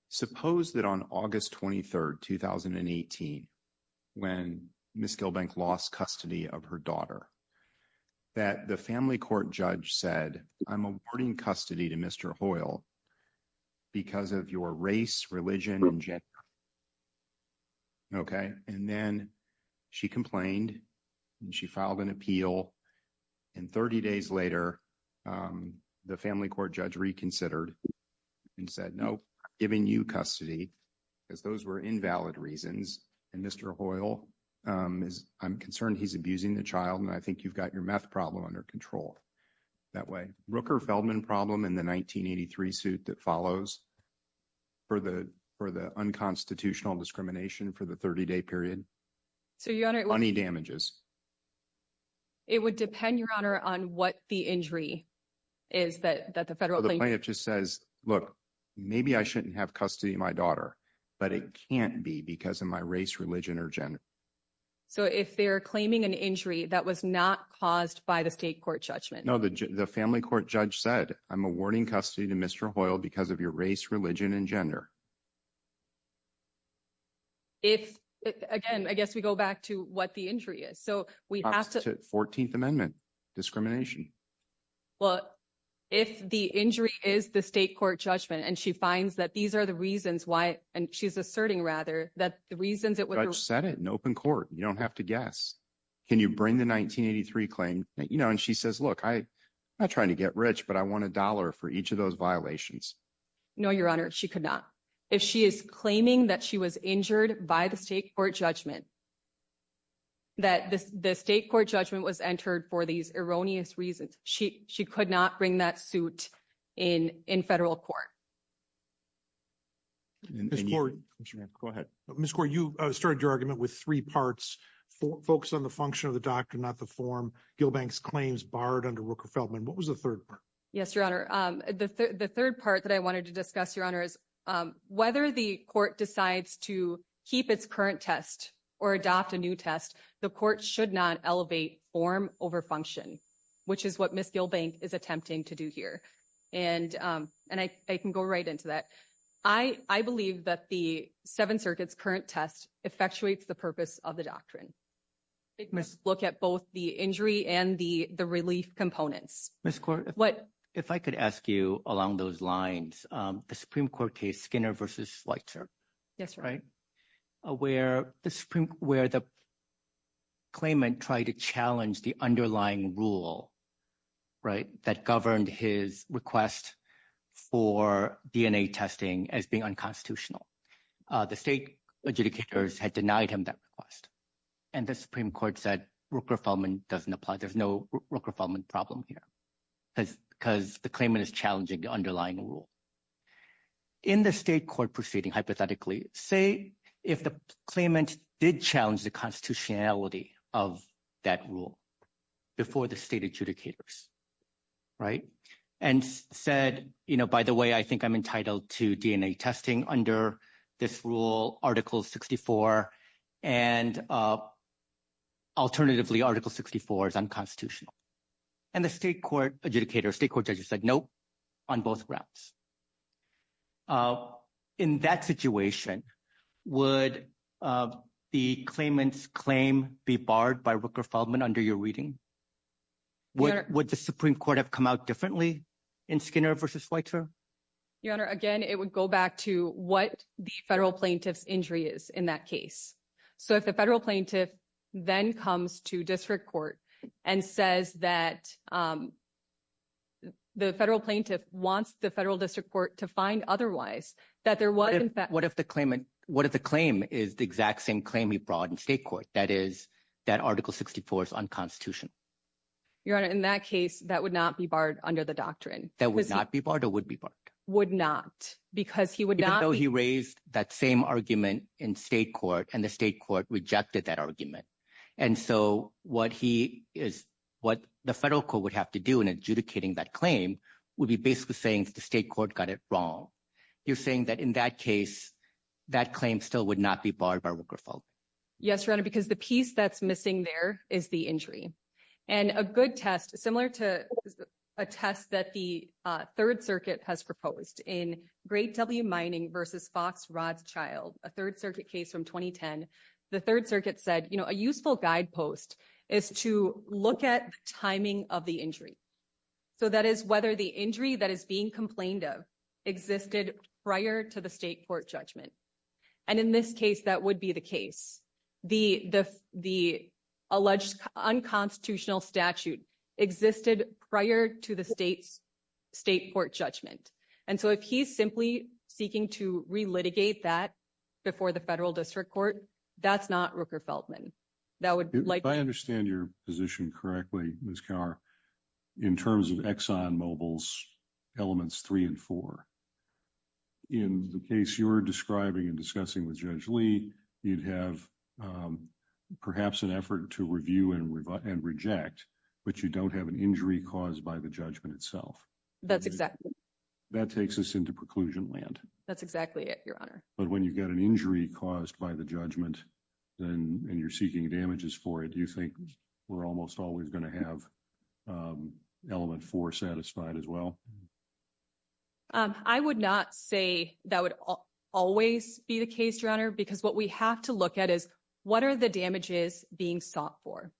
Suppose that on August 23rd, 2018, when Ms. Gilbank lost custody of her daughter, that the family court judge said, I'm awarding custody to Mr. Hoyle because of your race, religion, and gender. Okay? And then she complained, and she filed an appeal, and 30 days later, the family court judge reconsidered and said, nope, I'm giving you custody, because those were invalid reasons, and Mr. Hoyle is- I'm concerned he's abusing the child, and I think you've got your meth problem under control that way. Rooker-Feldman problem in the 1983 suit that follows for the unconstitutional discrimination for the 30-day period. So, Your Honor- Money damages. It would depend, Your Honor, on what the injury is that the federal plaintiff- So, the plaintiff just says, look, maybe I shouldn't have custody of my daughter, but it can't be because of my race, religion, or gender. So, if they're claiming an injury that was not caused by the state court judgment- No, the family court judge said, I'm awarding custody to Mr. Hoyle because of your race, religion, and gender. If, again, I guess we go back to what the injury is. So, we have to- 14th Amendment, discrimination. Well, if the injury is the state court judgment, and she finds that these are the reasons why, and she's asserting, rather, that the reasons it would- The judge said it in open court. You don't have to guess. Can you bring the 1983 claim? And she says, look, I'm not trying to get rich, but I want a dollar for each of those violations. No, Your Honor, she could not. If she is claiming that she was injured by the state court judgment, that the state court judgment was entered for these erroneous reasons, she could not bring that suit in federal court. Ms. Kaur- Go ahead. Ms. Kaur, you started your argument with three parts. Focus on the function of the doctrine, not the form. Gilbank's claims barred under Rooker-Feldman. What was the third part? Yes, Your Honor. The third part that I wanted to discuss, Your Honor, is whether the court decides to keep its current test or adopt a new test, the court should not elevate form over function, which is what Ms. Gilbank is attempting to do here. And I can go right into that. I believe that the Seventh Circuit's current test effectuates the purpose of the doctrine. It must look at both the injury and the relief components. Ms. Kaur- What- If I could ask you along those lines, the Supreme Court case Skinner v. Schweitzer- Yes, Your Honor. Right? Where the claimant tried to challenge the underlying rule, right, that governed his request for DNA testing as being unconstitutional. The state adjudicators had denied him that request, and the Supreme Court said Rooker-Feldman doesn't apply. There's no Rooker-Feldman problem here because the claimant is challenging the underlying rule. In the state court proceeding, hypothetically, say if the claimant did challenge the constitutionality of that rule before the state adjudicators, right, and said, you know, by the way, I think I'm entitled to DNA testing under this rule, Article 64, and alternatively, Article 64 is unconstitutional. And the state court adjudicators, state court judges said, nope, on both grounds. Okay. In that situation, would the claimant's claim be barred by Rooker-Feldman under your reading? Would the Supreme Court have come out differently in Skinner v. Schweitzer? Your Honor, again, it would go back to what the federal plaintiff's injury is in that case. So if the federal plaintiff then comes to district court and says that the federal plaintiff wants the federal district court to find otherwise, that there was in fact What if the claim is the exact same claim he brought in state court, that is, that Article 64 is unconstitutional? Your Honor, in that case, that would not be barred under the doctrine. That would not be barred or would be barred? Would not because he would not Even though he raised that same argument in state court and the state court rejected that argument. And so what he is, what the federal court would have to do in adjudicating that claim would be basically saying the state court got it wrong. You're saying that in that case, that claim still would not be barred by Rooker-Feldman? Yes, Your Honor, because the piece that's missing there is the injury. And a good test, similar to a test that the third circuit has proposed in Great W Mining v. Fox Rodschild, a third circuit case from 2010. The third circuit said a useful guidepost is to look at the timing of the injury. So that is whether the injury that is being complained of existed prior to the state court judgment. And in this case, that would be the case. The alleged unconstitutional statute existed prior to the state's state court judgment. And so if he's simply seeking to relitigate that before the federal district court, that's not Rooker-Feldman. If I understand your position correctly, Ms. Kaur, in terms of Exxon Mobil's elements three and four, in the case you're describing and discussing with Judge Lee, you'd have perhaps an effort to review and reject, but you don't have an injury caused by the judgment itself. That's exactly it. That's exactly it, Your Honor. But when you've got an injury caused by the judgment and you're seeking damages for it, do you think we're almost always going to have element four satisfied as well? I would not say that would always be the case, Your Honor, because what we have to look at is what are the damages being sought for?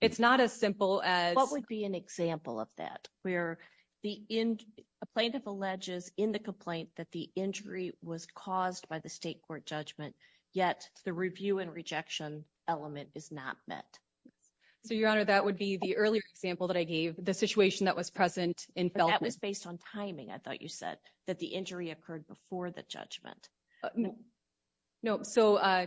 It's not as simple as- What would be an example of that? Where a plaintiff alleges in the complaint that the injury was caused by the state court judgment, yet the review and rejection element is not met. So, Your Honor, that would be the earlier example that I gave, the situation that was present in Feldman. That was based on timing, I thought you said, that the injury occurred before the judgment. No, so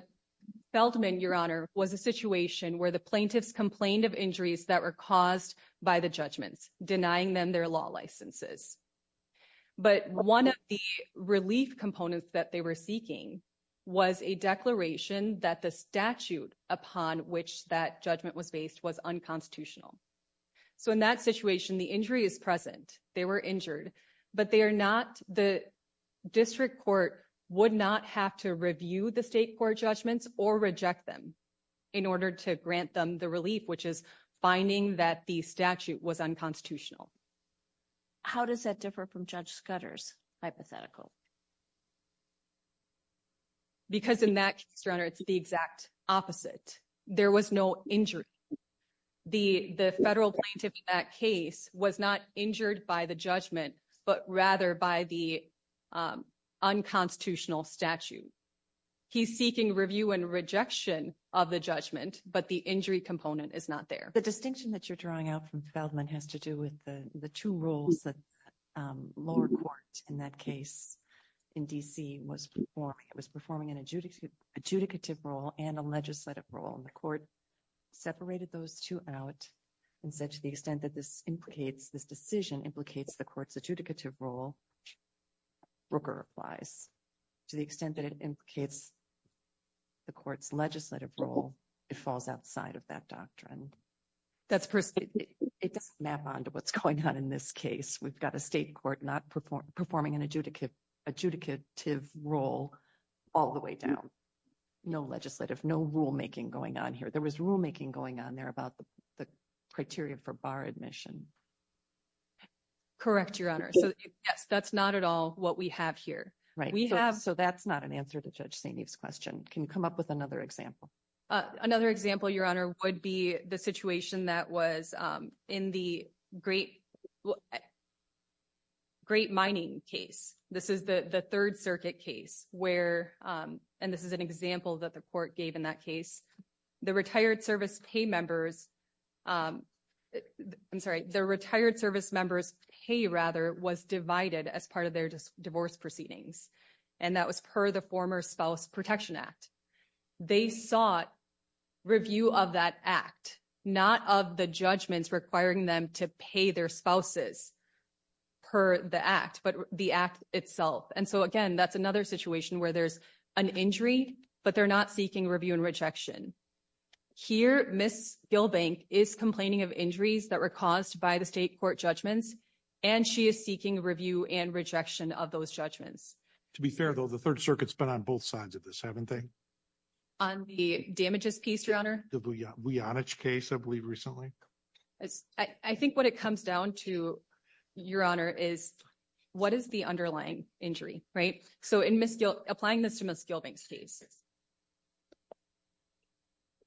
Feldman, Your Honor, was a situation where the plaintiffs complained of injuries that were caused by the judgments, denying them their law licenses. But one of the relief components that they were seeking was a declaration that the statute upon which that judgment was based was unconstitutional. So, in that situation, the injury is present, they were injured, but the district court would not have to review the state court judgments or reject them in order to grant them the relief, which is finding that the statute was unconstitutional. How does that differ from Judge Scudder's hypothetical? Because in that case, Your Honor, it's the exact opposite. There was no injury. The federal plaintiff in that case was not injured by the judgment, but rather by the unconstitutional statute. He's seeking review and rejection of the judgment, but the injury component is not there. The distinction that you're drawing out from Feldman has to do with the two roles that lower court in that case in D.C. was performing. It was performing an adjudicative role and a legislative role, and the court separated those two out and said, to the extent that this decision implicates the court's adjudicative role, which Brooker applies, to the extent that it implicates the court's legislative role, it falls outside of that doctrine. It doesn't map onto what's going on in this case. We've got a state court not performing an adjudicative role all the way down. No legislative, no rulemaking going on here. There was rulemaking going on there about the criteria for bar admission. Correct, Your Honor. Yes, that's not at all what we have here. Right, so that's not an answer to Judge St. Eve's question. Can you come up with another example? Another example, Your Honor, would be the situation that was in the Great Mining case. This is the Third Circuit case, and this is an example that the court gave in that case. The retired service members' pay, rather, was divided as part of their divorce proceedings, and that was per the former Spouse Protection Act. They sought review of that act, not of the judgments requiring them to pay their spouses per the act, but the act itself. And so, again, that's another situation where there's an injury, but they're not seeking review and rejection. Here, Ms. Gilbank is complaining of injuries that were caused by the state court judgments, and she is seeking review and rejection of those judgments. To be fair, though, the Third Circuit's been on both sides of this, haven't they? On the damages piece, Your Honor? The Bujanich case, I believe, recently. I think what it comes down to, Your Honor, is what is the underlying injury, right? So, applying this to Ms. Gilbank's case,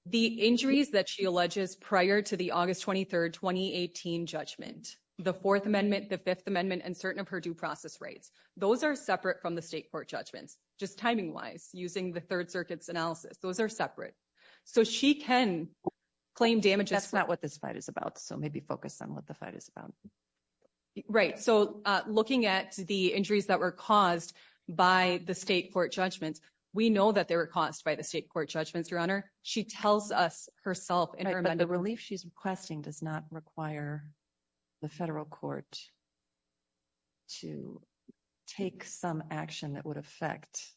the injuries that she alleges prior to the August 23, 2018 judgment, the Fourth Amendment, the Fifth Amendment, and certain of her due process rights, those are separate from the state court judgments, just timing-wise, using the Third Circuit's analysis. Those are separate. So, she can claim damages- That's not what this fight is about, so maybe focus on what the fight is about. Right. So, looking at the injuries that were caused by the state court judgments, we know that they were caused by the state court judgments, Your Honor. She tells us herself in her- But the relief she's requesting does not require the federal court to take some action that would affect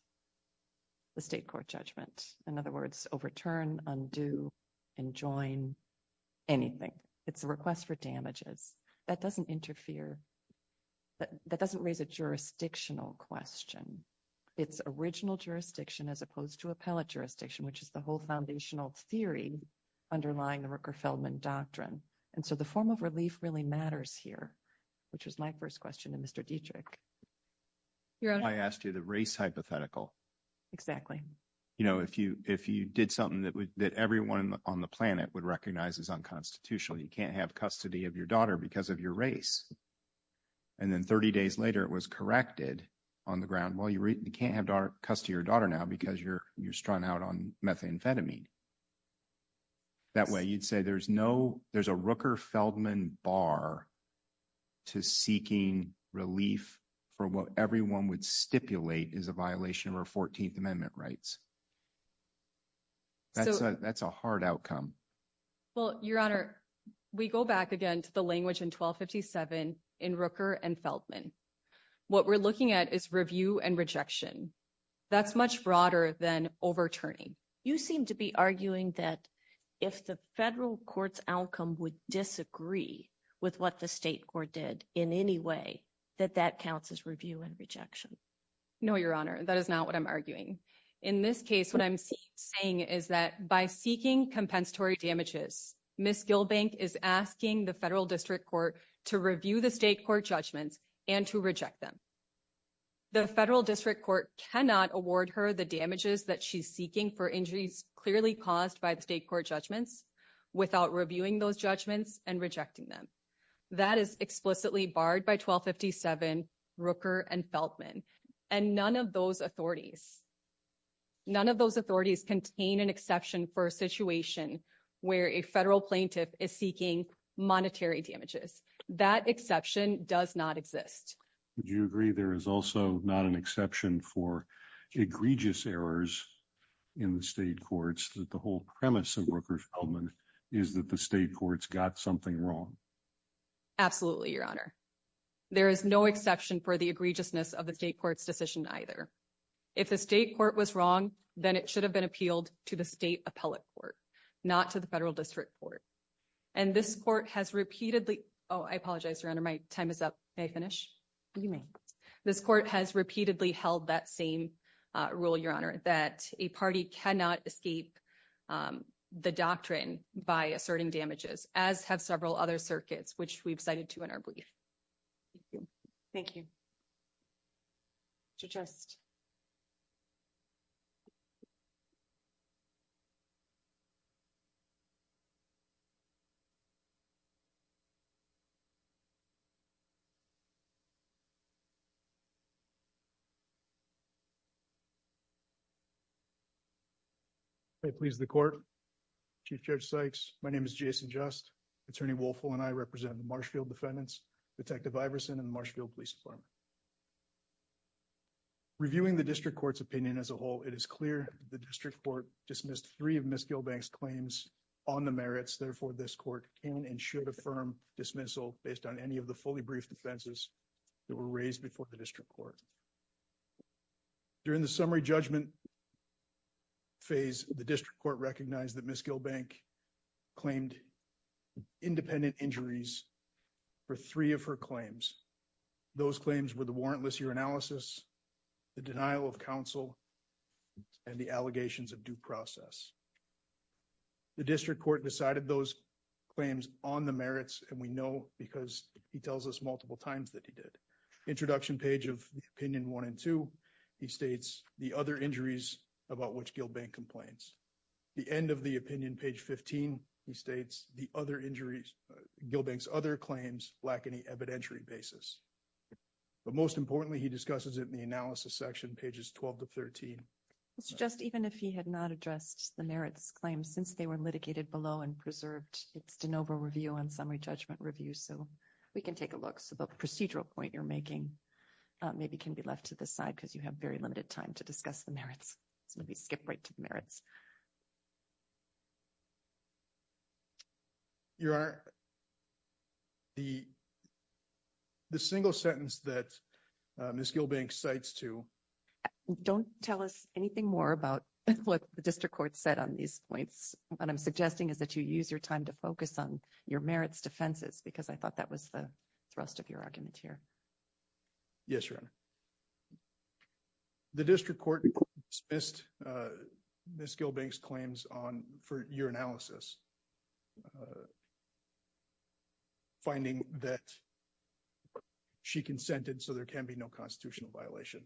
the state court judgment. In other words, overturn, undo, and join anything. It's a request for damages. That doesn't interfere. That doesn't raise a jurisdictional question. It's original jurisdiction as opposed to appellate jurisdiction, which is the whole foundational theory underlying the Rooker-Feldman Doctrine. And so, the form of relief really matters here, which was my first question to Mr. Dietrich. Your Honor- I asked you the race hypothetical. Exactly. You know, if you did something that everyone on the planet would recognize as unconstitutional, you can't have custody of your daughter because of your race. And then 30 days later, it was corrected on the ground. Well, you can't have custody of your daughter now because you're strung out on methamphetamine. That way, you'd say there's a Rooker-Feldman bar to seeking relief for what everyone would stipulate is a violation of our 14th Amendment rights. That's a hard outcome. Well, Your Honor, we go back again to the language in 1257 in Rooker and Feldman. What we're looking at is review and rejection. That's much broader than overturning. You seem to be arguing that if the federal court's outcome would disagree with what the state court did in any way, that that counts as review and rejection. No, Your Honor, that is not what I'm arguing. In this case, what I'm saying is that by seeking compensatory damages, Ms. Gilbank is asking the federal district court to review the state court judgments and to reject them. The federal district court cannot award her the damages that she's seeking for injuries clearly caused by the state court judgments without reviewing those judgments and rejecting them. That is explicitly barred by 1257, Rooker and Feldman, and none of those authorities none of those authorities contain an exception for a situation where a federal plaintiff is seeking monetary damages. That exception does not exist. Do you agree there is also not an exception for egregious errors in the state courts that the whole premise of Rooker and Feldman is that the state courts got something wrong? Absolutely, Your Honor. There is no exception for the egregiousness of the state court's decision either. If the state court was wrong, then it should have been appealed to the state appellate court, not to the federal district court. And this court has repeatedly... Oh, I apologize, Your Honor, my time is up. May I finish? You may. This court has repeatedly held that same rule, Your Honor, that a party cannot escape the doctrine by asserting damages, as have several other circuits, which we've cited to in our brief. Thank you. Thank you, Mr. Just. If that pleases the court, Chief Judge Sykes, my name is Jason Just. Attorney Wolfel and I represent Marshfield defendants, Detective Iverson and the Marshfield Police Department. Reviewing the district court's opinion as a whole, it is clear the district court dismissed three of Ms. Gilbank's claims on the merits. Therefore, this court can and should affirm dismissal based on any of the fully briefed offenses that were raised before the district court. During the summary judgment phase, the district court recognized that Ms. Gilbank claimed independent injuries for three of her claims. Those claims were the warrantless year analysis, the denial of counsel, and the allegations of due process. The district court decided those claims on the merits, and we know because he tells us multiple times that he did. Introduction page of opinion one and two, he states the other 15, he states the other injuries, Gilbank's other claims lack any evidentiary basis. But most importantly, he discusses it in the analysis section, pages 12 to 13. Mr. Just, even if he had not addressed the merits claims since they were litigated below and preserved, it's de novo review on summary judgment review, so we can take a look. So the procedural point you're making maybe can be left to the side because you have very limited time to discuss the merits. So let me skip right to the merits. Your Honor, the single sentence that Ms. Gilbank cites to... Don't tell us anything more about what the district court said on these points. What I'm suggesting is that you use your time to focus on your merits defenses because I thought that was the thrust of your argument here. Yes, Your Honor. The district court dismissed Ms. Gilbank's claims for your analysis, finding that she consented, so there can be no constitutional violation.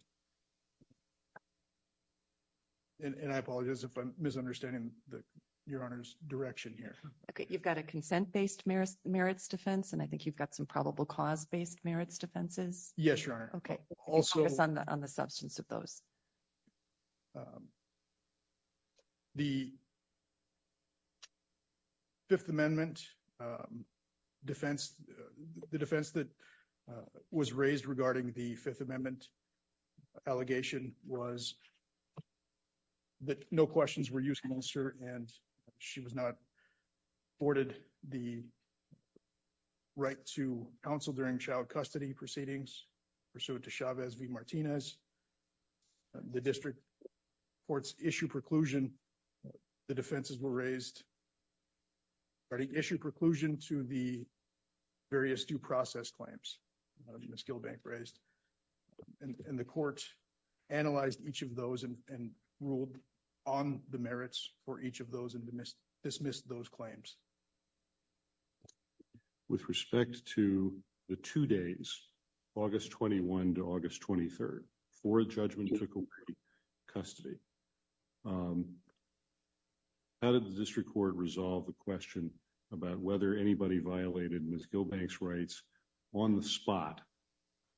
And I apologize if I'm misunderstanding Your Honor's direction here. Okay, you've got a consent-based merits defense, and I think you've got some probable cause-based defenses. Yes, Your Honor. Okay, focus on the substance of those. The Fifth Amendment defense, the defense that was raised regarding the Fifth Amendment allegation was that no questions were used against her, and she was not afforded the right to counsel during child custody proceedings pursuant to Chavez v. Martinez. The district court's issue preclusion, the defenses were raised regarding issue preclusion to the various due process claims that Ms. Gilbank raised, and the court analyzed each of those and ruled on the merits for each of those and dismissed those claims. With respect to the two days, August 21 to August 23, for a judgment to complete custody, how did the district court resolve the question about whether anybody violated Ms. Gilbank's rights on the spot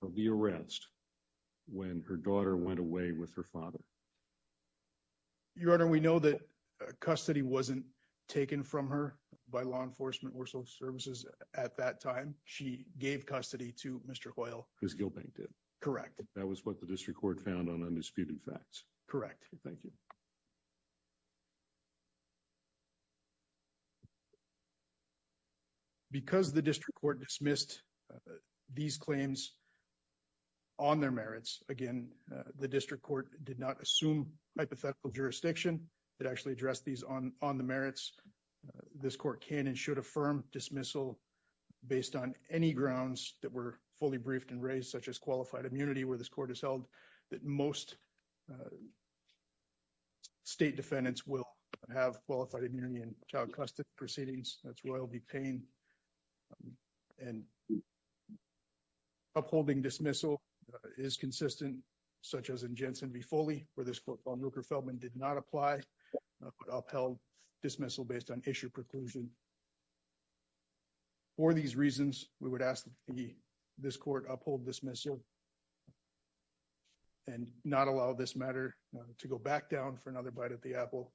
of the arrest when her daughter went away with her father? Your Honor, we know that custody wasn't taken from her by law enforcement or social services at that time. She gave custody to Mr. Hoyle. Ms. Gilbank did. Correct. That was what the district court found on undisputed facts. Correct. Thank you. Because the district court dismissed these claims on their merits, again, the district court did not assume hypothetical jurisdiction. It actually addressed these on the merits. This court can and should affirm dismissal based on any grounds that were fully briefed and raised, such as qualified immunity, where this court has held that most state defendants will have qualified immunity in child custody proceedings. That's royalty pain. And upholding dismissal is consistent, such as in Jensen v. Foley, where this court on Rooker-Feldman did not apply, upheld dismissal based on issue preclusion. For these reasons, we would ask that this court uphold dismissal and not allow this matter to go back down for another bite at the apple.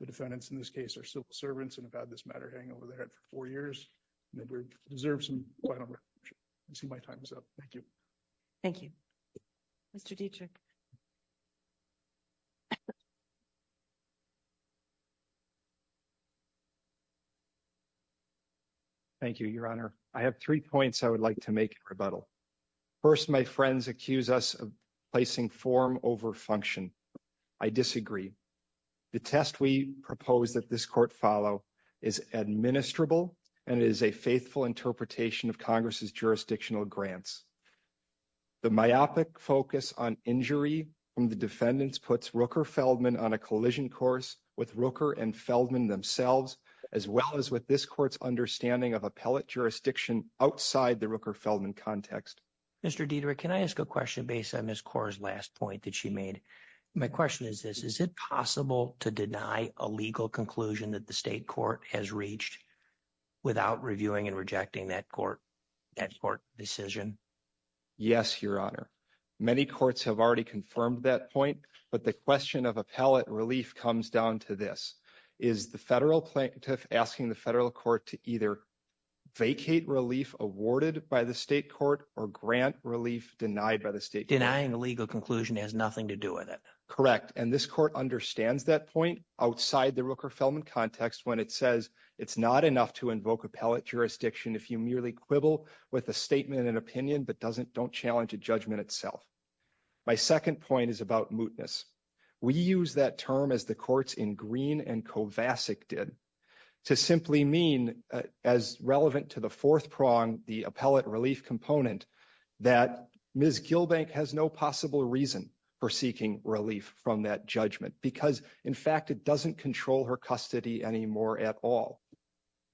The defendants in this case are civil servants and have had this matter hanging over their head for four years. We deserve some final recognition. I see my time is up. Thank you. Thank you. Mr. Dietrich. Thank you, Your Honor. I have three points I would like to make in rebuttal. First, my friends accuse us of placing form over function. I disagree. The test we propose that is a faithful interpretation of Congress's jurisdictional grants. The myopic focus on injury from the defendants puts Rooker-Feldman on a collision course with Rooker and Feldman themselves, as well as with this court's understanding of appellate jurisdiction outside the Rooker-Feldman context. Mr. Dietrich, can I ask a question based on Ms. Kaur's last point that she made? My question is this. Is it possible to deny a legal conclusion that the state court has reached without reviewing and rejecting that court decision? Yes, Your Honor. Many courts have already confirmed that point, but the question of appellate relief comes down to this. Is the federal plaintiff asking the federal court to either vacate relief awarded by the state court or grant relief denied by the state court? Denying a legal conclusion has nothing to do with it. Correct. And this court understands that point outside the Rooker-Feldman context when it says it's not enough to invoke appellate jurisdiction if you merely quibble with a statement and opinion but don't challenge a judgment itself. My second point is about mootness. We use that term, as the courts in Green and Kovacic did, to simply mean, as relevant to the fourth prong, the appellate relief component, that Ms. Gilbank has no possible reason for seeking relief from that judgment because, in fact, it doesn't control her custody anymore at all.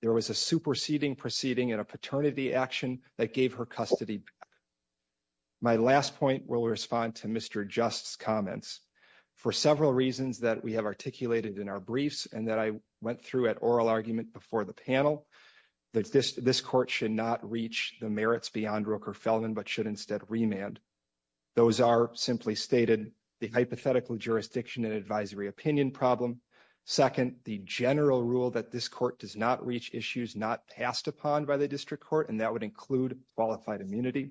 There was a superseding proceeding and a paternity action that gave her custody back. My last point will respond to Mr. Just's comments. For several reasons that we have articulated in our briefs that I went through at oral argument before the panel, this court should not reach the merits beyond Rooker-Feldman but should instead remand. Those are, simply stated, the hypothetical jurisdiction and advisory opinion problem. Second, the general rule that this court does not reach issues not passed upon by the district court, and that would include qualified immunity.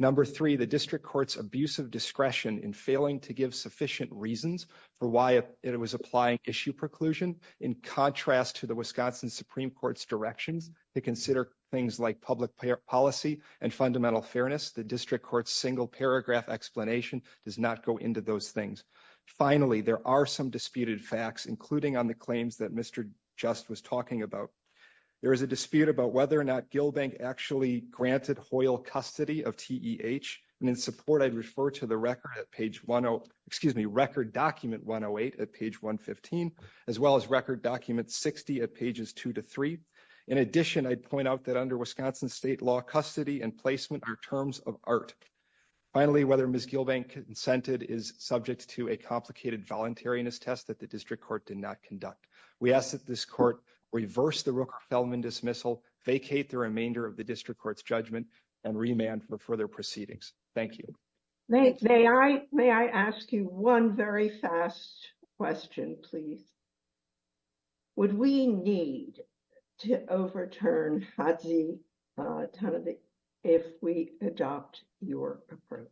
Number three, the district court's abusive discretion in failing to give sufficient reasons for why it was applying issue preclusion, in contrast to the Wisconsin Supreme Court's directions to consider things like public policy and fundamental fairness. The district court's single paragraph explanation does not go into those things. Finally, there are some disputed facts, including on the claims that Mr. Just was talking about. There is a dispute about whether or not Gilbank actually granted Hoyle custody of TEH, and in support, I'd refer to the record at page 115, as well as record document 60 at pages 2-3. In addition, I'd point out that under Wisconsin state law custody and placement are terms of art. Finally, whether Ms. Gilbank consented is subject to a complicated voluntariness test that the district court did not conduct. We ask that this court reverse the Rooker-Feldman dismissal, vacate the remainder of the district court's judgment, and remand for further proceedings. Thank you. May I ask you one very fast question, please? Would we need to overturn Hadzi Tanavik if we adopt your approach?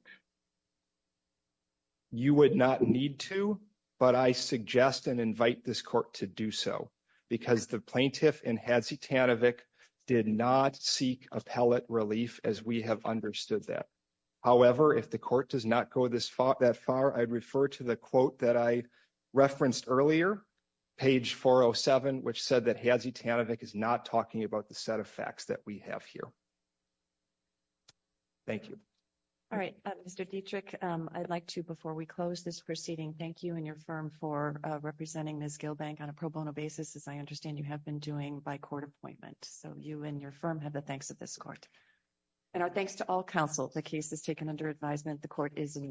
You would not need to, but I suggest and invite this court to do so, because the plaintiff in Hadzi Tanavik did not seek appellate relief as we have understood that. However, if the court does not go that far, I'd refer to the quote that I referenced earlier, page 407, which said that Hadzi Tanavik is not talking about the set of facts that we have here. Thank you. All right, Mr. Dietrich, I'd like to, before we close this proceeding, thank you and your firm for representing Ms. Gilbank on a pro bono basis, as I understand you have been doing by court appointment. So you and your firm have the thanks of this court. And our thanks to all counsel. The case is taken under advisement. The court is in recess.